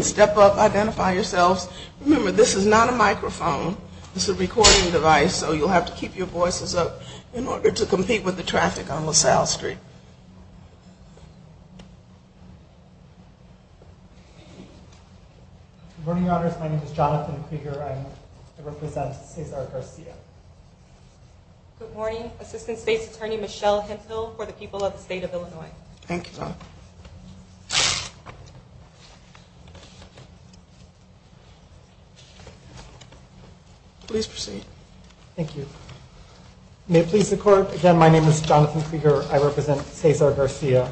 Step up, identify yourselves. Remember, this is not a microphone. This is a recording device, so you'll have to keep your voices up in order to compete with the traffic on LaSalle Street. Good morning, Your Honors. My name is Jonathan Krieger. I represent Cesar Garcia. Good morning. Assistant State's Attorney Michelle Hensville for the people of the state of Illinois. Thank you, Your Honor. Please proceed. Thank you. May it please the Court, again, my name is Jonathan Krieger. I represent Cesar Garcia.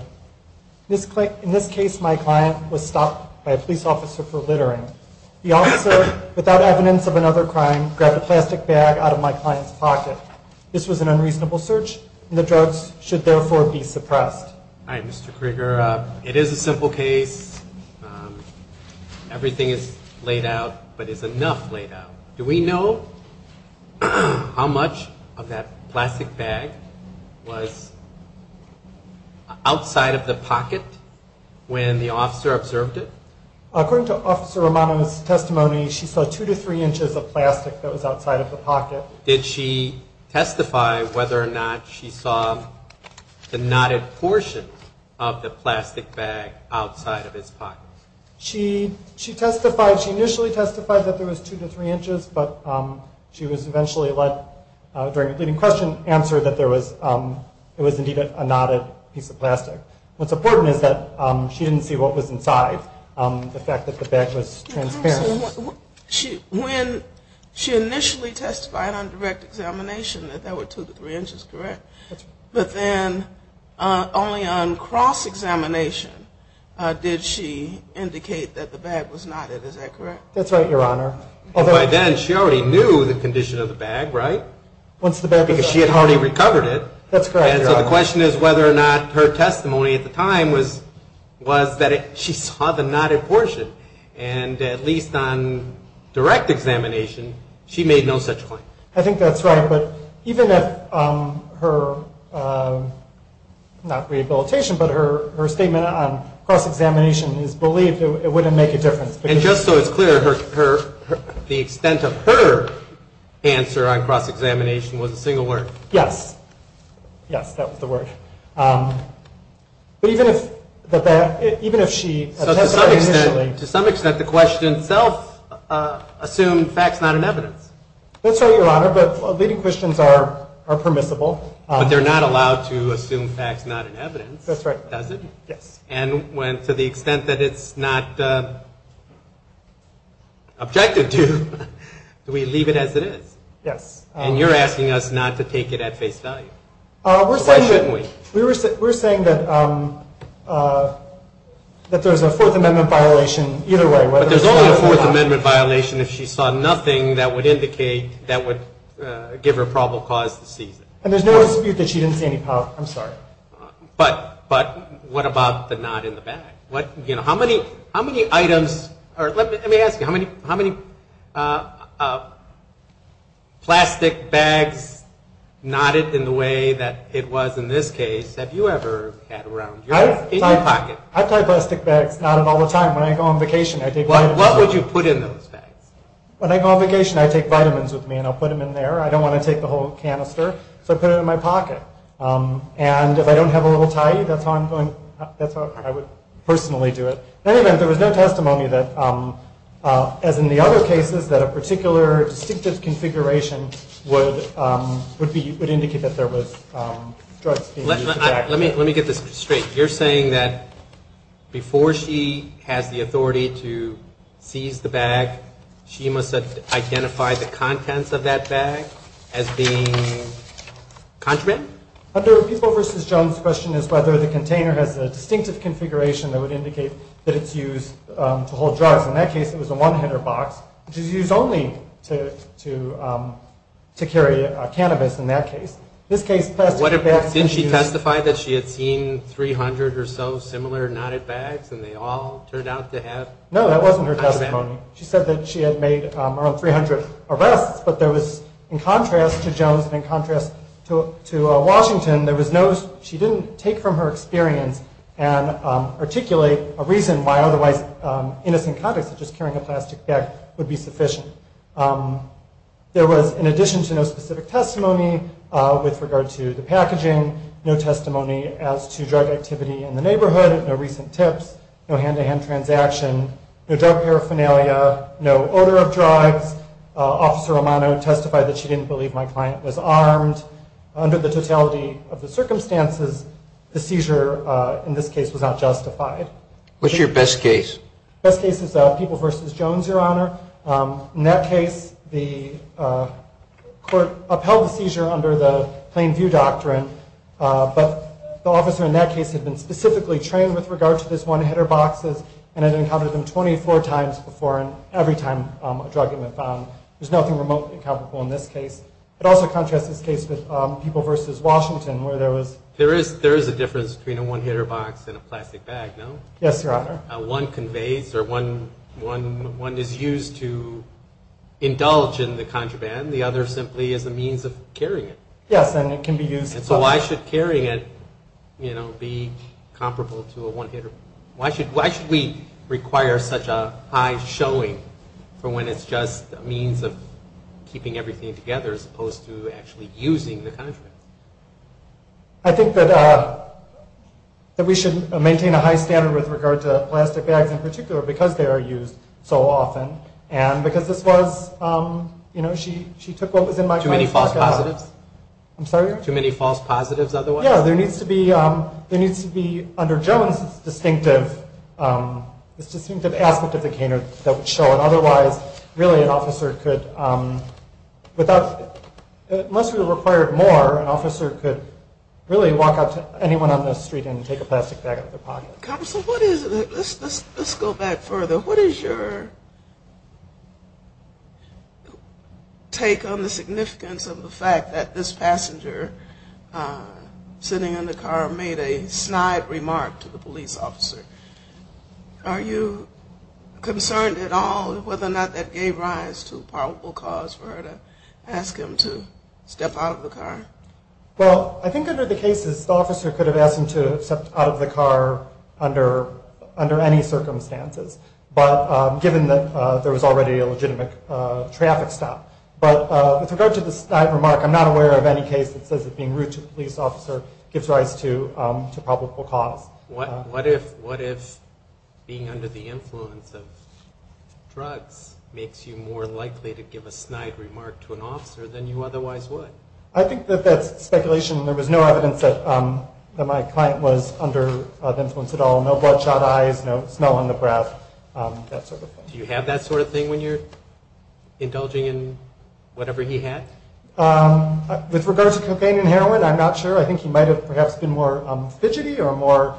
In this case, my client was stopped by a police officer for littering. The officer, without evidence of another crime, grabbed a plastic bag out of my client's pocket. This was an unreasonable search, and the drugs should therefore be suppressed. All right, Mr. Krieger, it is a simple case. Everything is laid out, but is enough laid out? Do we know how much of that plastic bag was outside of the pocket when the officer observed it? According to Officer Romano's testimony, she saw two to three inches of plastic that was outside of the pocket. Did she testify whether or not she saw the knotted portion of the plastic bag outside of his pocket? She testified, she initially testified that there was two to three inches, but she was eventually let, during the leading question, answer that there was, it was indeed a knotted piece of plastic. What's important is that she didn't see what was inside, the fact that the bag was transparent. When she initially testified on direct examination that there were two to three inches, correct, but then only on cross-examination did she indicate that the bag was knotted, is that correct? That's right, Your Honor. By then, she already knew the condition of the bag, right? Because she had already recovered it. That's correct, Your Honor. And so the question is whether or not her testimony at the time was that she saw the knotted portion, and at least on direct examination, she made no such claim. I think that's right, but even if her, not rehabilitation, but her statement on cross-examination is believed, it wouldn't make a difference. And just so it's clear, the extent of her answer on cross-examination was a single word? Yes. Yes, that was the word. But even if the bag, even if she testified initially. So to some extent, the question itself assumed facts not in evidence. That's right, Your Honor, but leading questions are permissible. But they're not allowed to assume facts not in evidence. That's right. Does it? Yes. And to the extent that it's not objected to, do we leave it as it is? Yes. And you're asking us not to take it at face value. Why shouldn't we? We're saying that there's a Fourth Amendment violation either way. But there's only a Fourth Amendment violation if she saw nothing that would indicate, that would give her probable cause to seize it. And there's no dispute that she didn't see any, I'm sorry. But what about the knot in the bag? How many items, or let me ask you, how many plastic bags knotted in the way that it was in this case, have you ever had around your pocket? I've tied plastic bags knotted all the time. When I go on vacation, I take vitamins. What would you put in those bags? When I go on vacation, I take vitamins with me and I'll put them in there. I don't want to take the whole canister, so I put it in my pocket. And if I don't have a little tie, that's how I would personally do it. In any event, there was no testimony that, as in the other cases, that a particular distinctive configuration would indicate that there was drugs being used in the bag. Let me get this straight. You're saying that before she has the authority to seize the bag, she must identify the contents of that bag as being contraband? Under People v. Jones, the question is whether the container has a distinctive configuration that would indicate that it's used to hold drugs. In that case, it was a one-hitter box, which is used only to carry cannabis in that case. Didn't she testify that she had seen 300 or so similar knotted bags and they all turned out to have contraband? No, that wasn't her testimony. She said that she had made around 300 arrests, but in contrast to Jones and in contrast to Washington, she didn't take from her experience and articulate a reason why otherwise innocent conduct, such as carrying a plastic bag, would be sufficient. There was, in addition to no specific testimony with regard to the packaging, no testimony as to drug activity in the neighborhood, no recent tips, no hand-to-hand transaction, no drug paraphernalia, no odor of drugs. Officer Romano testified that she didn't believe my client was armed. Under the totality of the circumstances, the seizure in this case was not justified. What's your best case? Best case is People v. Jones, Your Honor. In that case, the court upheld the seizure under the Plain View Doctrine, but the officer in that case had been specifically trained with regard to these one-hitter boxes and had uncovered them 24 times before and every time a drug had been found. There's nothing remotely incomparable in this case. It also contrasts this case with People v. Washington where there was... There is a difference between a one-hitter box and a plastic bag, no? Yes, Your Honor. One is used to evade or one is used to indulge in the contraband. The other simply is a means of carrying it. Yes, and it can be used... And so why should carrying it, you know, be comparable to a one-hitter? Why should we require such a high showing for when it's just a means of keeping everything together as opposed to actually using the contraband? I think that we should maintain a high standard with regard to plastic bags in particular because they are used so often and because this was... You know, she took what was in my... Too many false positives? I'm sorry? Too many false positives otherwise? Yeah, there needs to be, under Jones, this distinctive aspect of the caner that would show that otherwise, really, an officer could, without... Unless we required more, an officer could really walk up to anyone on the street and take a plastic bag out of their pocket. Counsel, what is... Let's go back further. What is your take on the significance of the fact that this passenger sitting in the car made a snide remark to the police officer? Are you concerned at all whether or not that gave rise to probable cause for her to ask him to step out of the car? Well, I think under the cases, the officer could have asked him to step out of the car under any circumstances, but given that there was already a legitimate traffic stop. But with regard to the snide remark, I'm not aware of any case that says that being rude to the police officer gives rise to probable cause. What if being under the influence of drugs makes you more likely to give a snide remark to an officer than you otherwise would? I think that that's speculation. There was no evidence that my client was under influence at all. No bloodshot eyes, no smell on the breath, that sort of thing. Do you have that sort of thing when you're indulging in whatever he had? With regard to cocaine and heroin, I'm not sure. I think he might have perhaps been more fidgety or more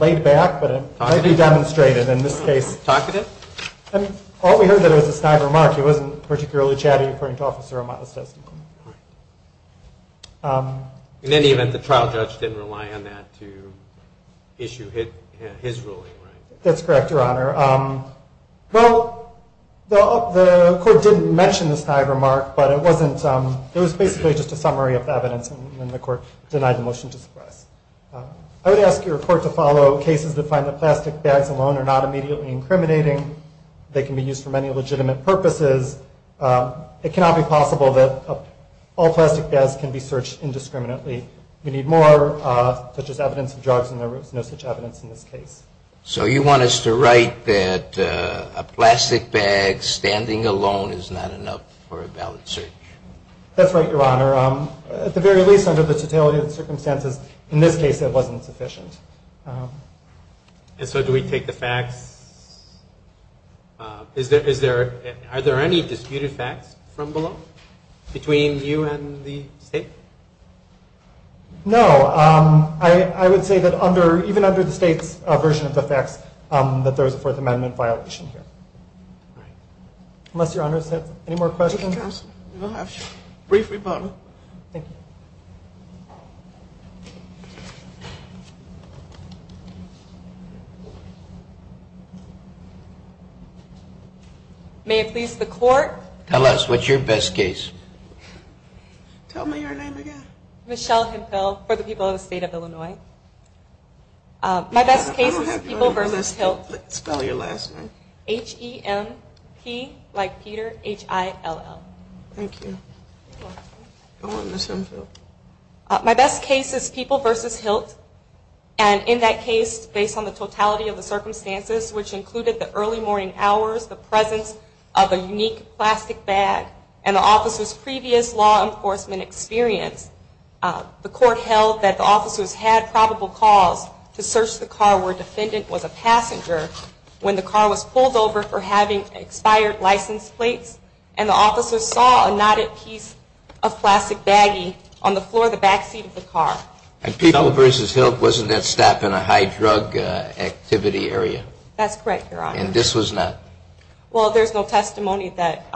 laid back, but it might be demonstrated in this case. Talkative? All we heard was a snide remark. It wasn't particularly chatty according to Officer Armato's testimony. In any event, the trial judge didn't rely on that to issue his ruling, right? That's correct, Your Honor. Well, the court didn't mention the snide remark, but it was basically just a summary of the evidence in the court. It denied the motion to suppress. I would ask your court to follow cases that find that plastic bags alone are not immediately incriminating. They can be used for many legitimate purposes. It cannot be possible that all plastic bags can be searched indiscriminately. We need more, such as evidence of drugs, and there was no such evidence in this case. So you want us to write that a plastic bag standing alone is not enough for a valid search? That's right, Your Honor. At the very least, under the totality of the circumstances, in this case it wasn't sufficient. And so do we take the facts? Are there any disputed facts from below? Between you and the State? No. I would say that even under the State's version of the facts, that there was a Fourth Amendment violation here. Right. Unless Your Honors have any more questions? Thank you, Counsel. We will have a brief rebuttal. Thank you. May it please the Court. Tell us, what's your best case? Tell me your name again. Michelle Hemphill for the people of the State of Illinois. My best case is the people versus Hiltz. Spell your last name. H-E-M-P like Peter, H-I-L-L. Thank you. Go on, Ms. Hemphill. My best case is people versus Hiltz. And in that case, based on the totality of the circumstances, which included the early morning hours, the presence of a unique plastic bag, and the officer's previous law enforcement experience, the Court held that the officers had probable cause to search the car where a defendant was a passenger when the car was pulled over for having expired license plates, and the officer saw a knotted piece of plastic baggie on the floor of the backseat of the car. And people versus Hiltz wasn't at stop in a high-drug activity area? That's correct, Your Honor. And this was not? Well, there's no testimony that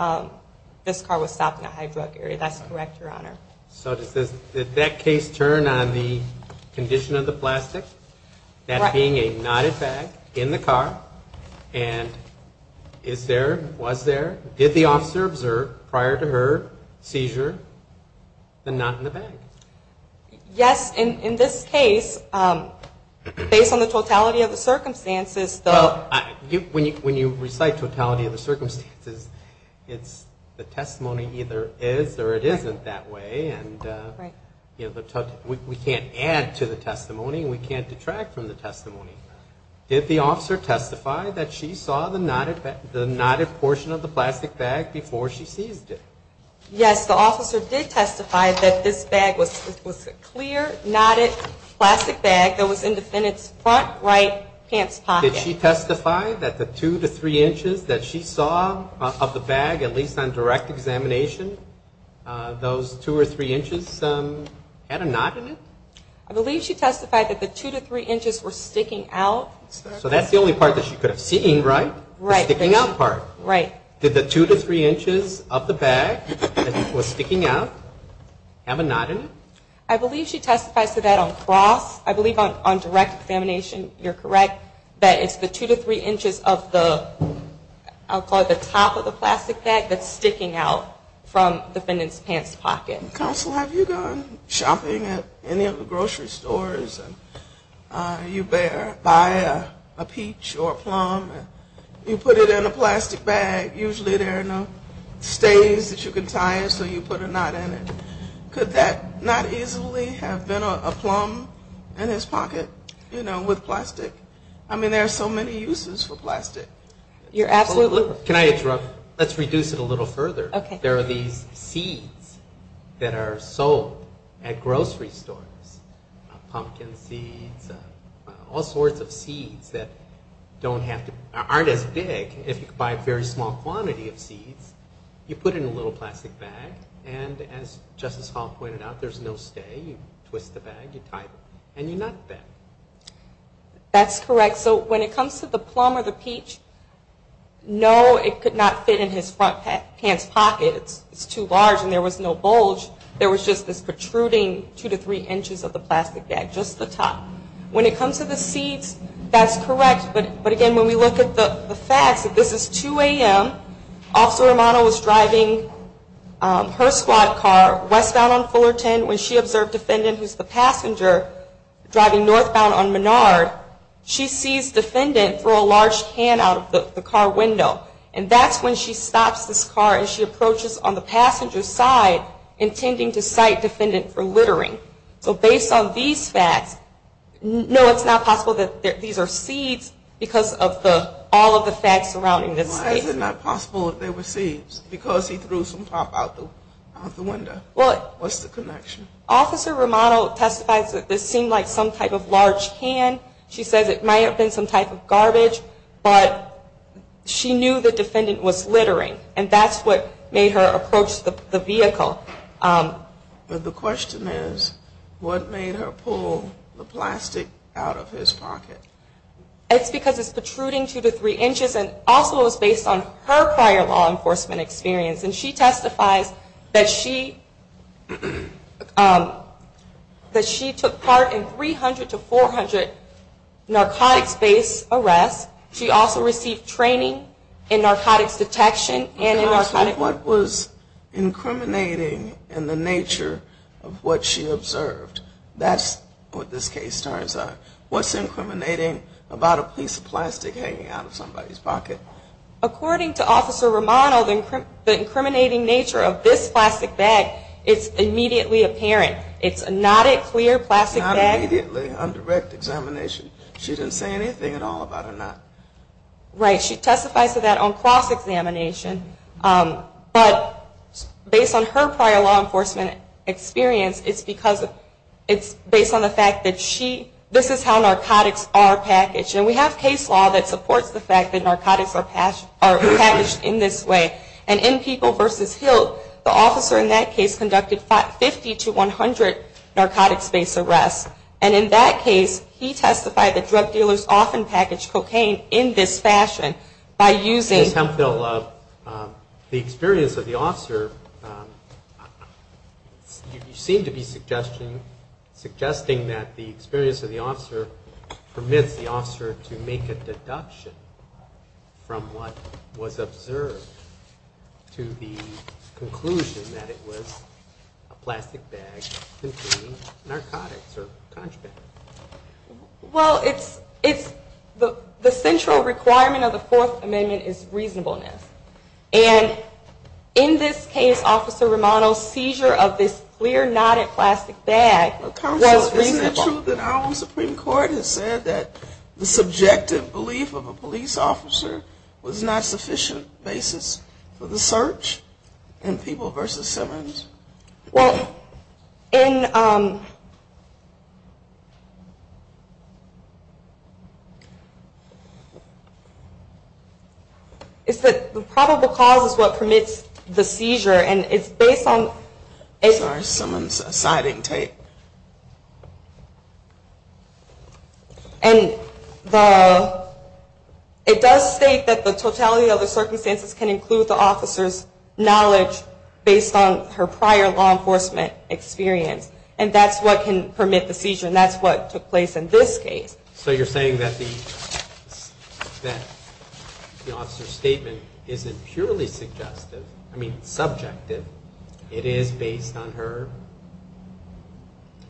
this car was stopped in a high-drug area. That's correct, Your Honor. So did that case turn on the condition of the plastic, that being a knotted bag in the car, and is there, was there, did the officer observe prior to her seizure the knot in the bag? Yes, in this case, based on the totality of the circumstances, the... Well, when you recite totality of the circumstances, it's the testimony either is or it isn't that way, and we can't add to the testimony, and we can't detract from the testimony. Did the officer testify that she saw the knotted bag, the plastic bag, before she seized it? Yes, the officer did testify that this bag was a clear, knotted plastic bag that was in the defendant's front right pants pocket. Did she testify that the two to three inches that she saw of the bag, at least on direct examination, those two or three inches had a knot in it? I believe she testified that the two to three inches were sticking out. So that's the only part that she could have seen, right? The sticking out part. Did the two to three inches of the bag that was sticking out have a knot in it? I believe she testified to that on cross. I believe on direct examination, you're correct, that it's the two to three inches of the, I'll call it the top of the plastic bag, that's sticking out from the defendant's pants pocket. Counsel, have you gone shopping at any of the grocery stores and you buy a peach or a plum and you put it in a plastic bag, usually there are no stays that you can tie it, so you put a knot in it. Could that not easily have been a plum in his pocket, you know, with plastic? I mean, there are so many uses for plastic. You're absolutely right. Can I interrupt? Let's reduce it a little further. There are these seeds that are sold at grocery stores, pumpkin seeds, all sorts of seeds that aren't as big. If you buy a very small quantity of seeds, you put it in a little plastic bag and as Justice Hall pointed out, there's no stay, you twist the bag, you tie it, and you knot that. That's correct. So when it comes to the plum or the peach, no, it could not fit in his front pants pocket, it's too large and there was no bulge, there was just this protruding two to three inches of the plastic bag, just the top. When it comes to the seeds, that's correct, but again, when we look at the facts, that this is 2 a.m., Officer Romano was driving her squad car westbound on Fullerton when she observed a defendant who's the passenger driving northbound on Menard. She sees defendant throw a large can out of the car window and that's when she stops this car and she approaches on the passenger's side intending to cite defendant for littering. So based on these facts, no, it's not possible that these are seeds because of all of the facts surrounding this case. Why is it not possible that they were seeds because he threw some pop out the window? What's the connection? Officer Romano testifies that this seemed like some type of large can. She says it might have been some type of garbage, but she knew the defendant was littering and that's what made her approach the vehicle. But the question is, what made her pull the plastic out of his pocket? It's because it's protruding 2 to 3 inches and also it was based on her prior law enforcement experience and she testifies that she, um, that she took part in 300 to 400 narcotics-based arrests. She also received training in narcotics detection and in narcotics... What was incriminating in the nature of what she observed that's what this case turns out. What's incriminating about a piece of plastic hanging out of somebody's pocket? According to Officer Romano, the incriminating nature of this plastic bag is immediately apparent. It's not a clear plastic bag. Not immediately, a direct examination. She didn't say anything at all about it. Right. She testifies to that on cross-examination. But based on her prior law enforcement experience, it's because of, it's based on the fact that she, this is how narcotics are packaged. And we have case law that supports the fact that narcotics are packaged in this way. And in People v. Hilt, the officer in that case conducted 50 to 100 narcotics-based arrests. And in that case, he testified that drug dealers often package cocaine in this fashion by using... Ms. Hemphill, the experience of the officer, would you be suggesting that the experience of the officer permits the officer to make a deduction from what was observed to the conclusion that it was a plastic bag containing narcotics or contraband? Well, it's, the central requirement of the Fourth Amendment is reasonableness. And in this case, Officer Romano's seizure of this clear, knotted plastic bag was reasonable. Counsel, is it true that our own Supreme Court has said that the subjective belief of a police officer was not sufficient basis for the search in People v. Simmons? Well, in, it's that the probable cause of the seizure is based on... Sorry, someone's siding tape. And the, it does state that the totality of the circumstances can include the officer's knowledge based on her prior law enforcement experience. And that's what can permit the seizure and that's what took place in this case. So you're saying that the, that the officer's statement isn't purely suggestive, I mean subjective. It is based on her?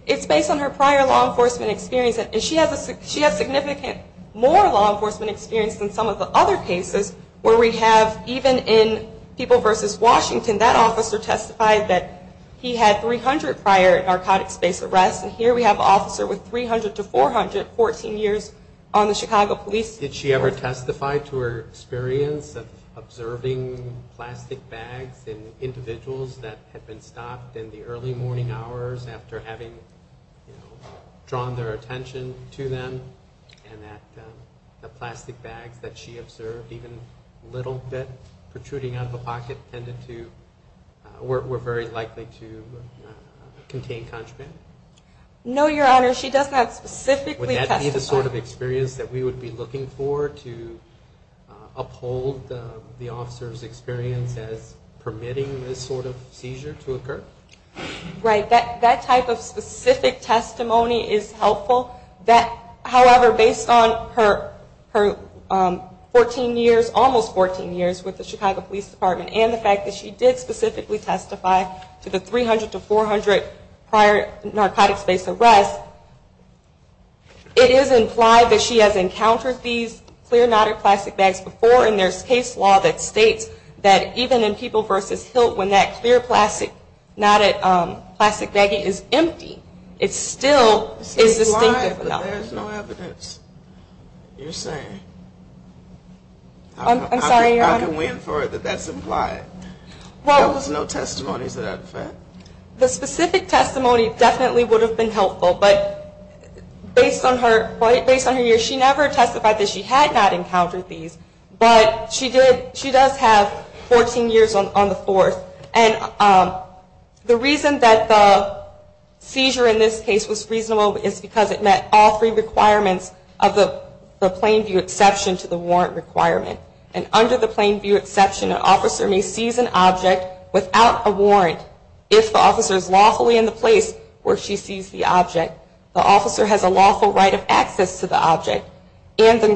It's based on her prior law enforcement experience. And she has a, she has significant more law enforcement experience than some of the other cases where we have, even in People v. Washington, that officer testified that he had 300 prior narcotics based arrests. And here we have an officer with 300 to 400, 14 years on the Chicago Police... Did she ever testify to her experience of observing plastic bags in individuals that had been stopped in the early morning hours after having, you know, drawn their attention to them? And that, the plastic bags that she observed even a little bit protruding out of the pocket tended to, were, were very likely to contain contraband? No, Your Honor. She does not specifically testify. Would that be the sort of experience that we would be looking for to uphold the officer's experience as permitting this sort of seizure to occur? Right. That, that type of specific testimony is helpful. That, however, based on her, her 14 years, almost 14 years with the Chicago Police Department and the fact that she did specifically testify to the 300 to 400 prior narcotics based arrests, that it is implied that she has encountered these clear knotted plastic bags before and there's case law that states that even in People v. Hilt when that clear plastic, knotted plastic baggie is empty, it still is distinctive enough. It's implied, but there's no evidence. You're saying. I'm, I'm sorry, Your Honor. I can, I can win for it, that that's implied. There was no testimony to that effect? The specific testimony definitely would have been helpful, but based on her, based on her years, she never testified that she had not encountered these, but she did, she does have 14 years on the fourth and the reason that the seizure in this case was reasonable is because it met all three requirements of the plain view exception to the warrant requirement. And under the plain view exception, an officer may seize an object without a warrant if the officer is lawfully in the place where she sees the object. The officer has a lawful right of access to the object and the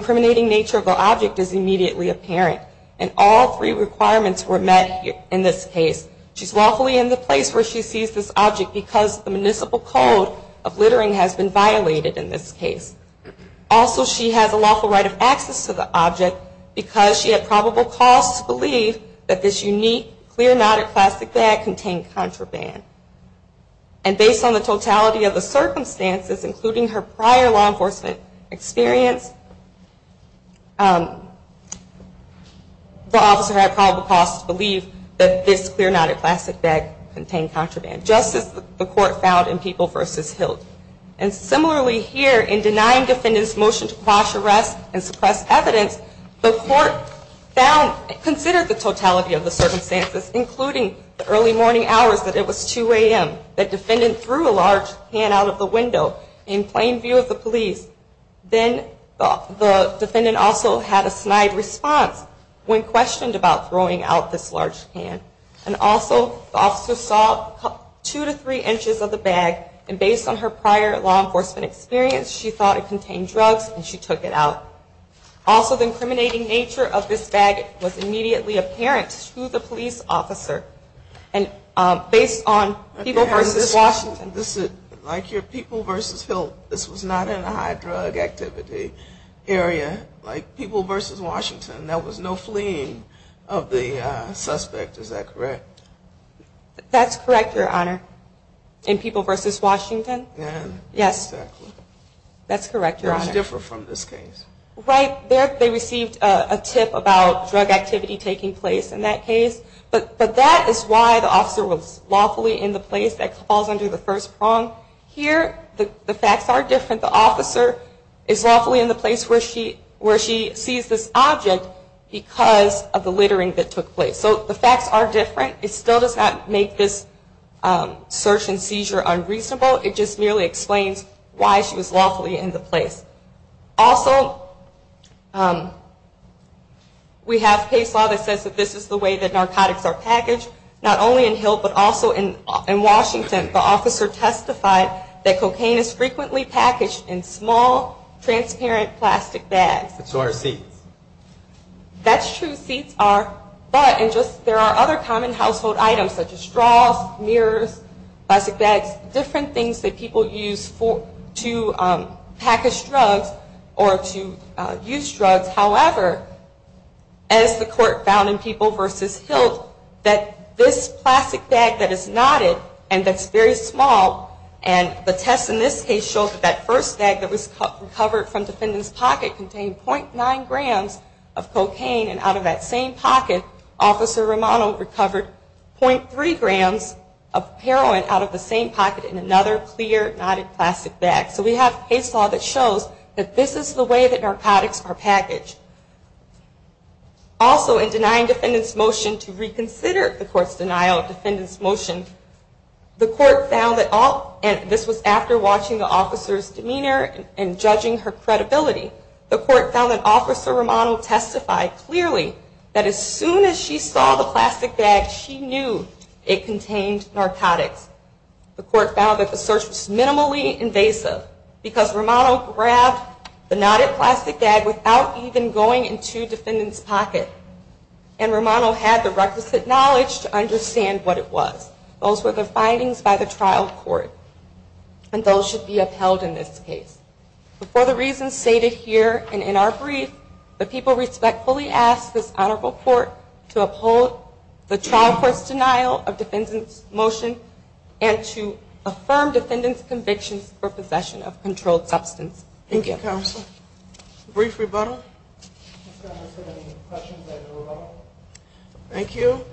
municipal code of littering has been violated in this case. Also, she has a lawful right of access to the object because she had probable cause to believe that this unique clear knotted plastic bag contained contraband. And based on the totality of the circumstances including her prior law enforcement experience, the officer had probable cause to believe that this clear knotted plastic bag contained contraband, just as the court found in People v. Hilt. And similarly here, in denying defendant's motion to quash arrest and suppress evidence, the court considered the totality of the circumstances including the early morning hours that it was 2 a.m. that defendant threw a large can out of the window in plain view of the police. Then the defendant also had a snide response when questioned about throwing out this large can. And also, the officer saw 2 to 3 inches of the bag and based on her prior law enforcement experience, she thought it contained drugs and she took it out. Also, the incriminating nature of this bag was immediately apparent to the police officer. And based on People v. Washington. Like your People v. Hilt, this was not in a high drug activity area. Like People v. Washington, there was no fleeing of the suspect. Is that correct? That's correct, Your Honor. It was different from this case. Right. They received a tip about drug activity taking place in that case. But that is why the officer was lawfully in the place that falls under the first prong. Here, the facts are different. The officer is lawfully in the place where she sees this object because of the drug activity. Also, we have case law that says this is the way that narcotics are packaged. Not only in Hilt, but also in Washington. The officer testified that cocaine is frequently packaged in small, transparent plastic bags. That's true. Seats are. But there are other ways to package drugs or to use drugs. However, as the court found in People v. Hilt, that this plastic bag that is knotted and that's very small and the test in this case showed that the first bag that was recovered from the defendant's pocket contained 0.9 grams of cocaine and out of that same pocket Officer Romano recovered 0.3 grams of heroin out of the same pocket in another clear, knotted plastic bag. So we have case law that shows that this is the way that narcotics are packaged. Also, in denying defendant's motion to reconsider the court's denial of defendant's motion, the court found that Officer Romano testified clearly that as soon as she saw the plastic bag, she knew it contained narcotics. The court found that the search was minimally invasive because Romano grabbed the knotted plastic bag without even going into defendant's pocket and Romano had the requisite knowledge to the crime and to defendant's conviction for possession of controlled substance. Thank you.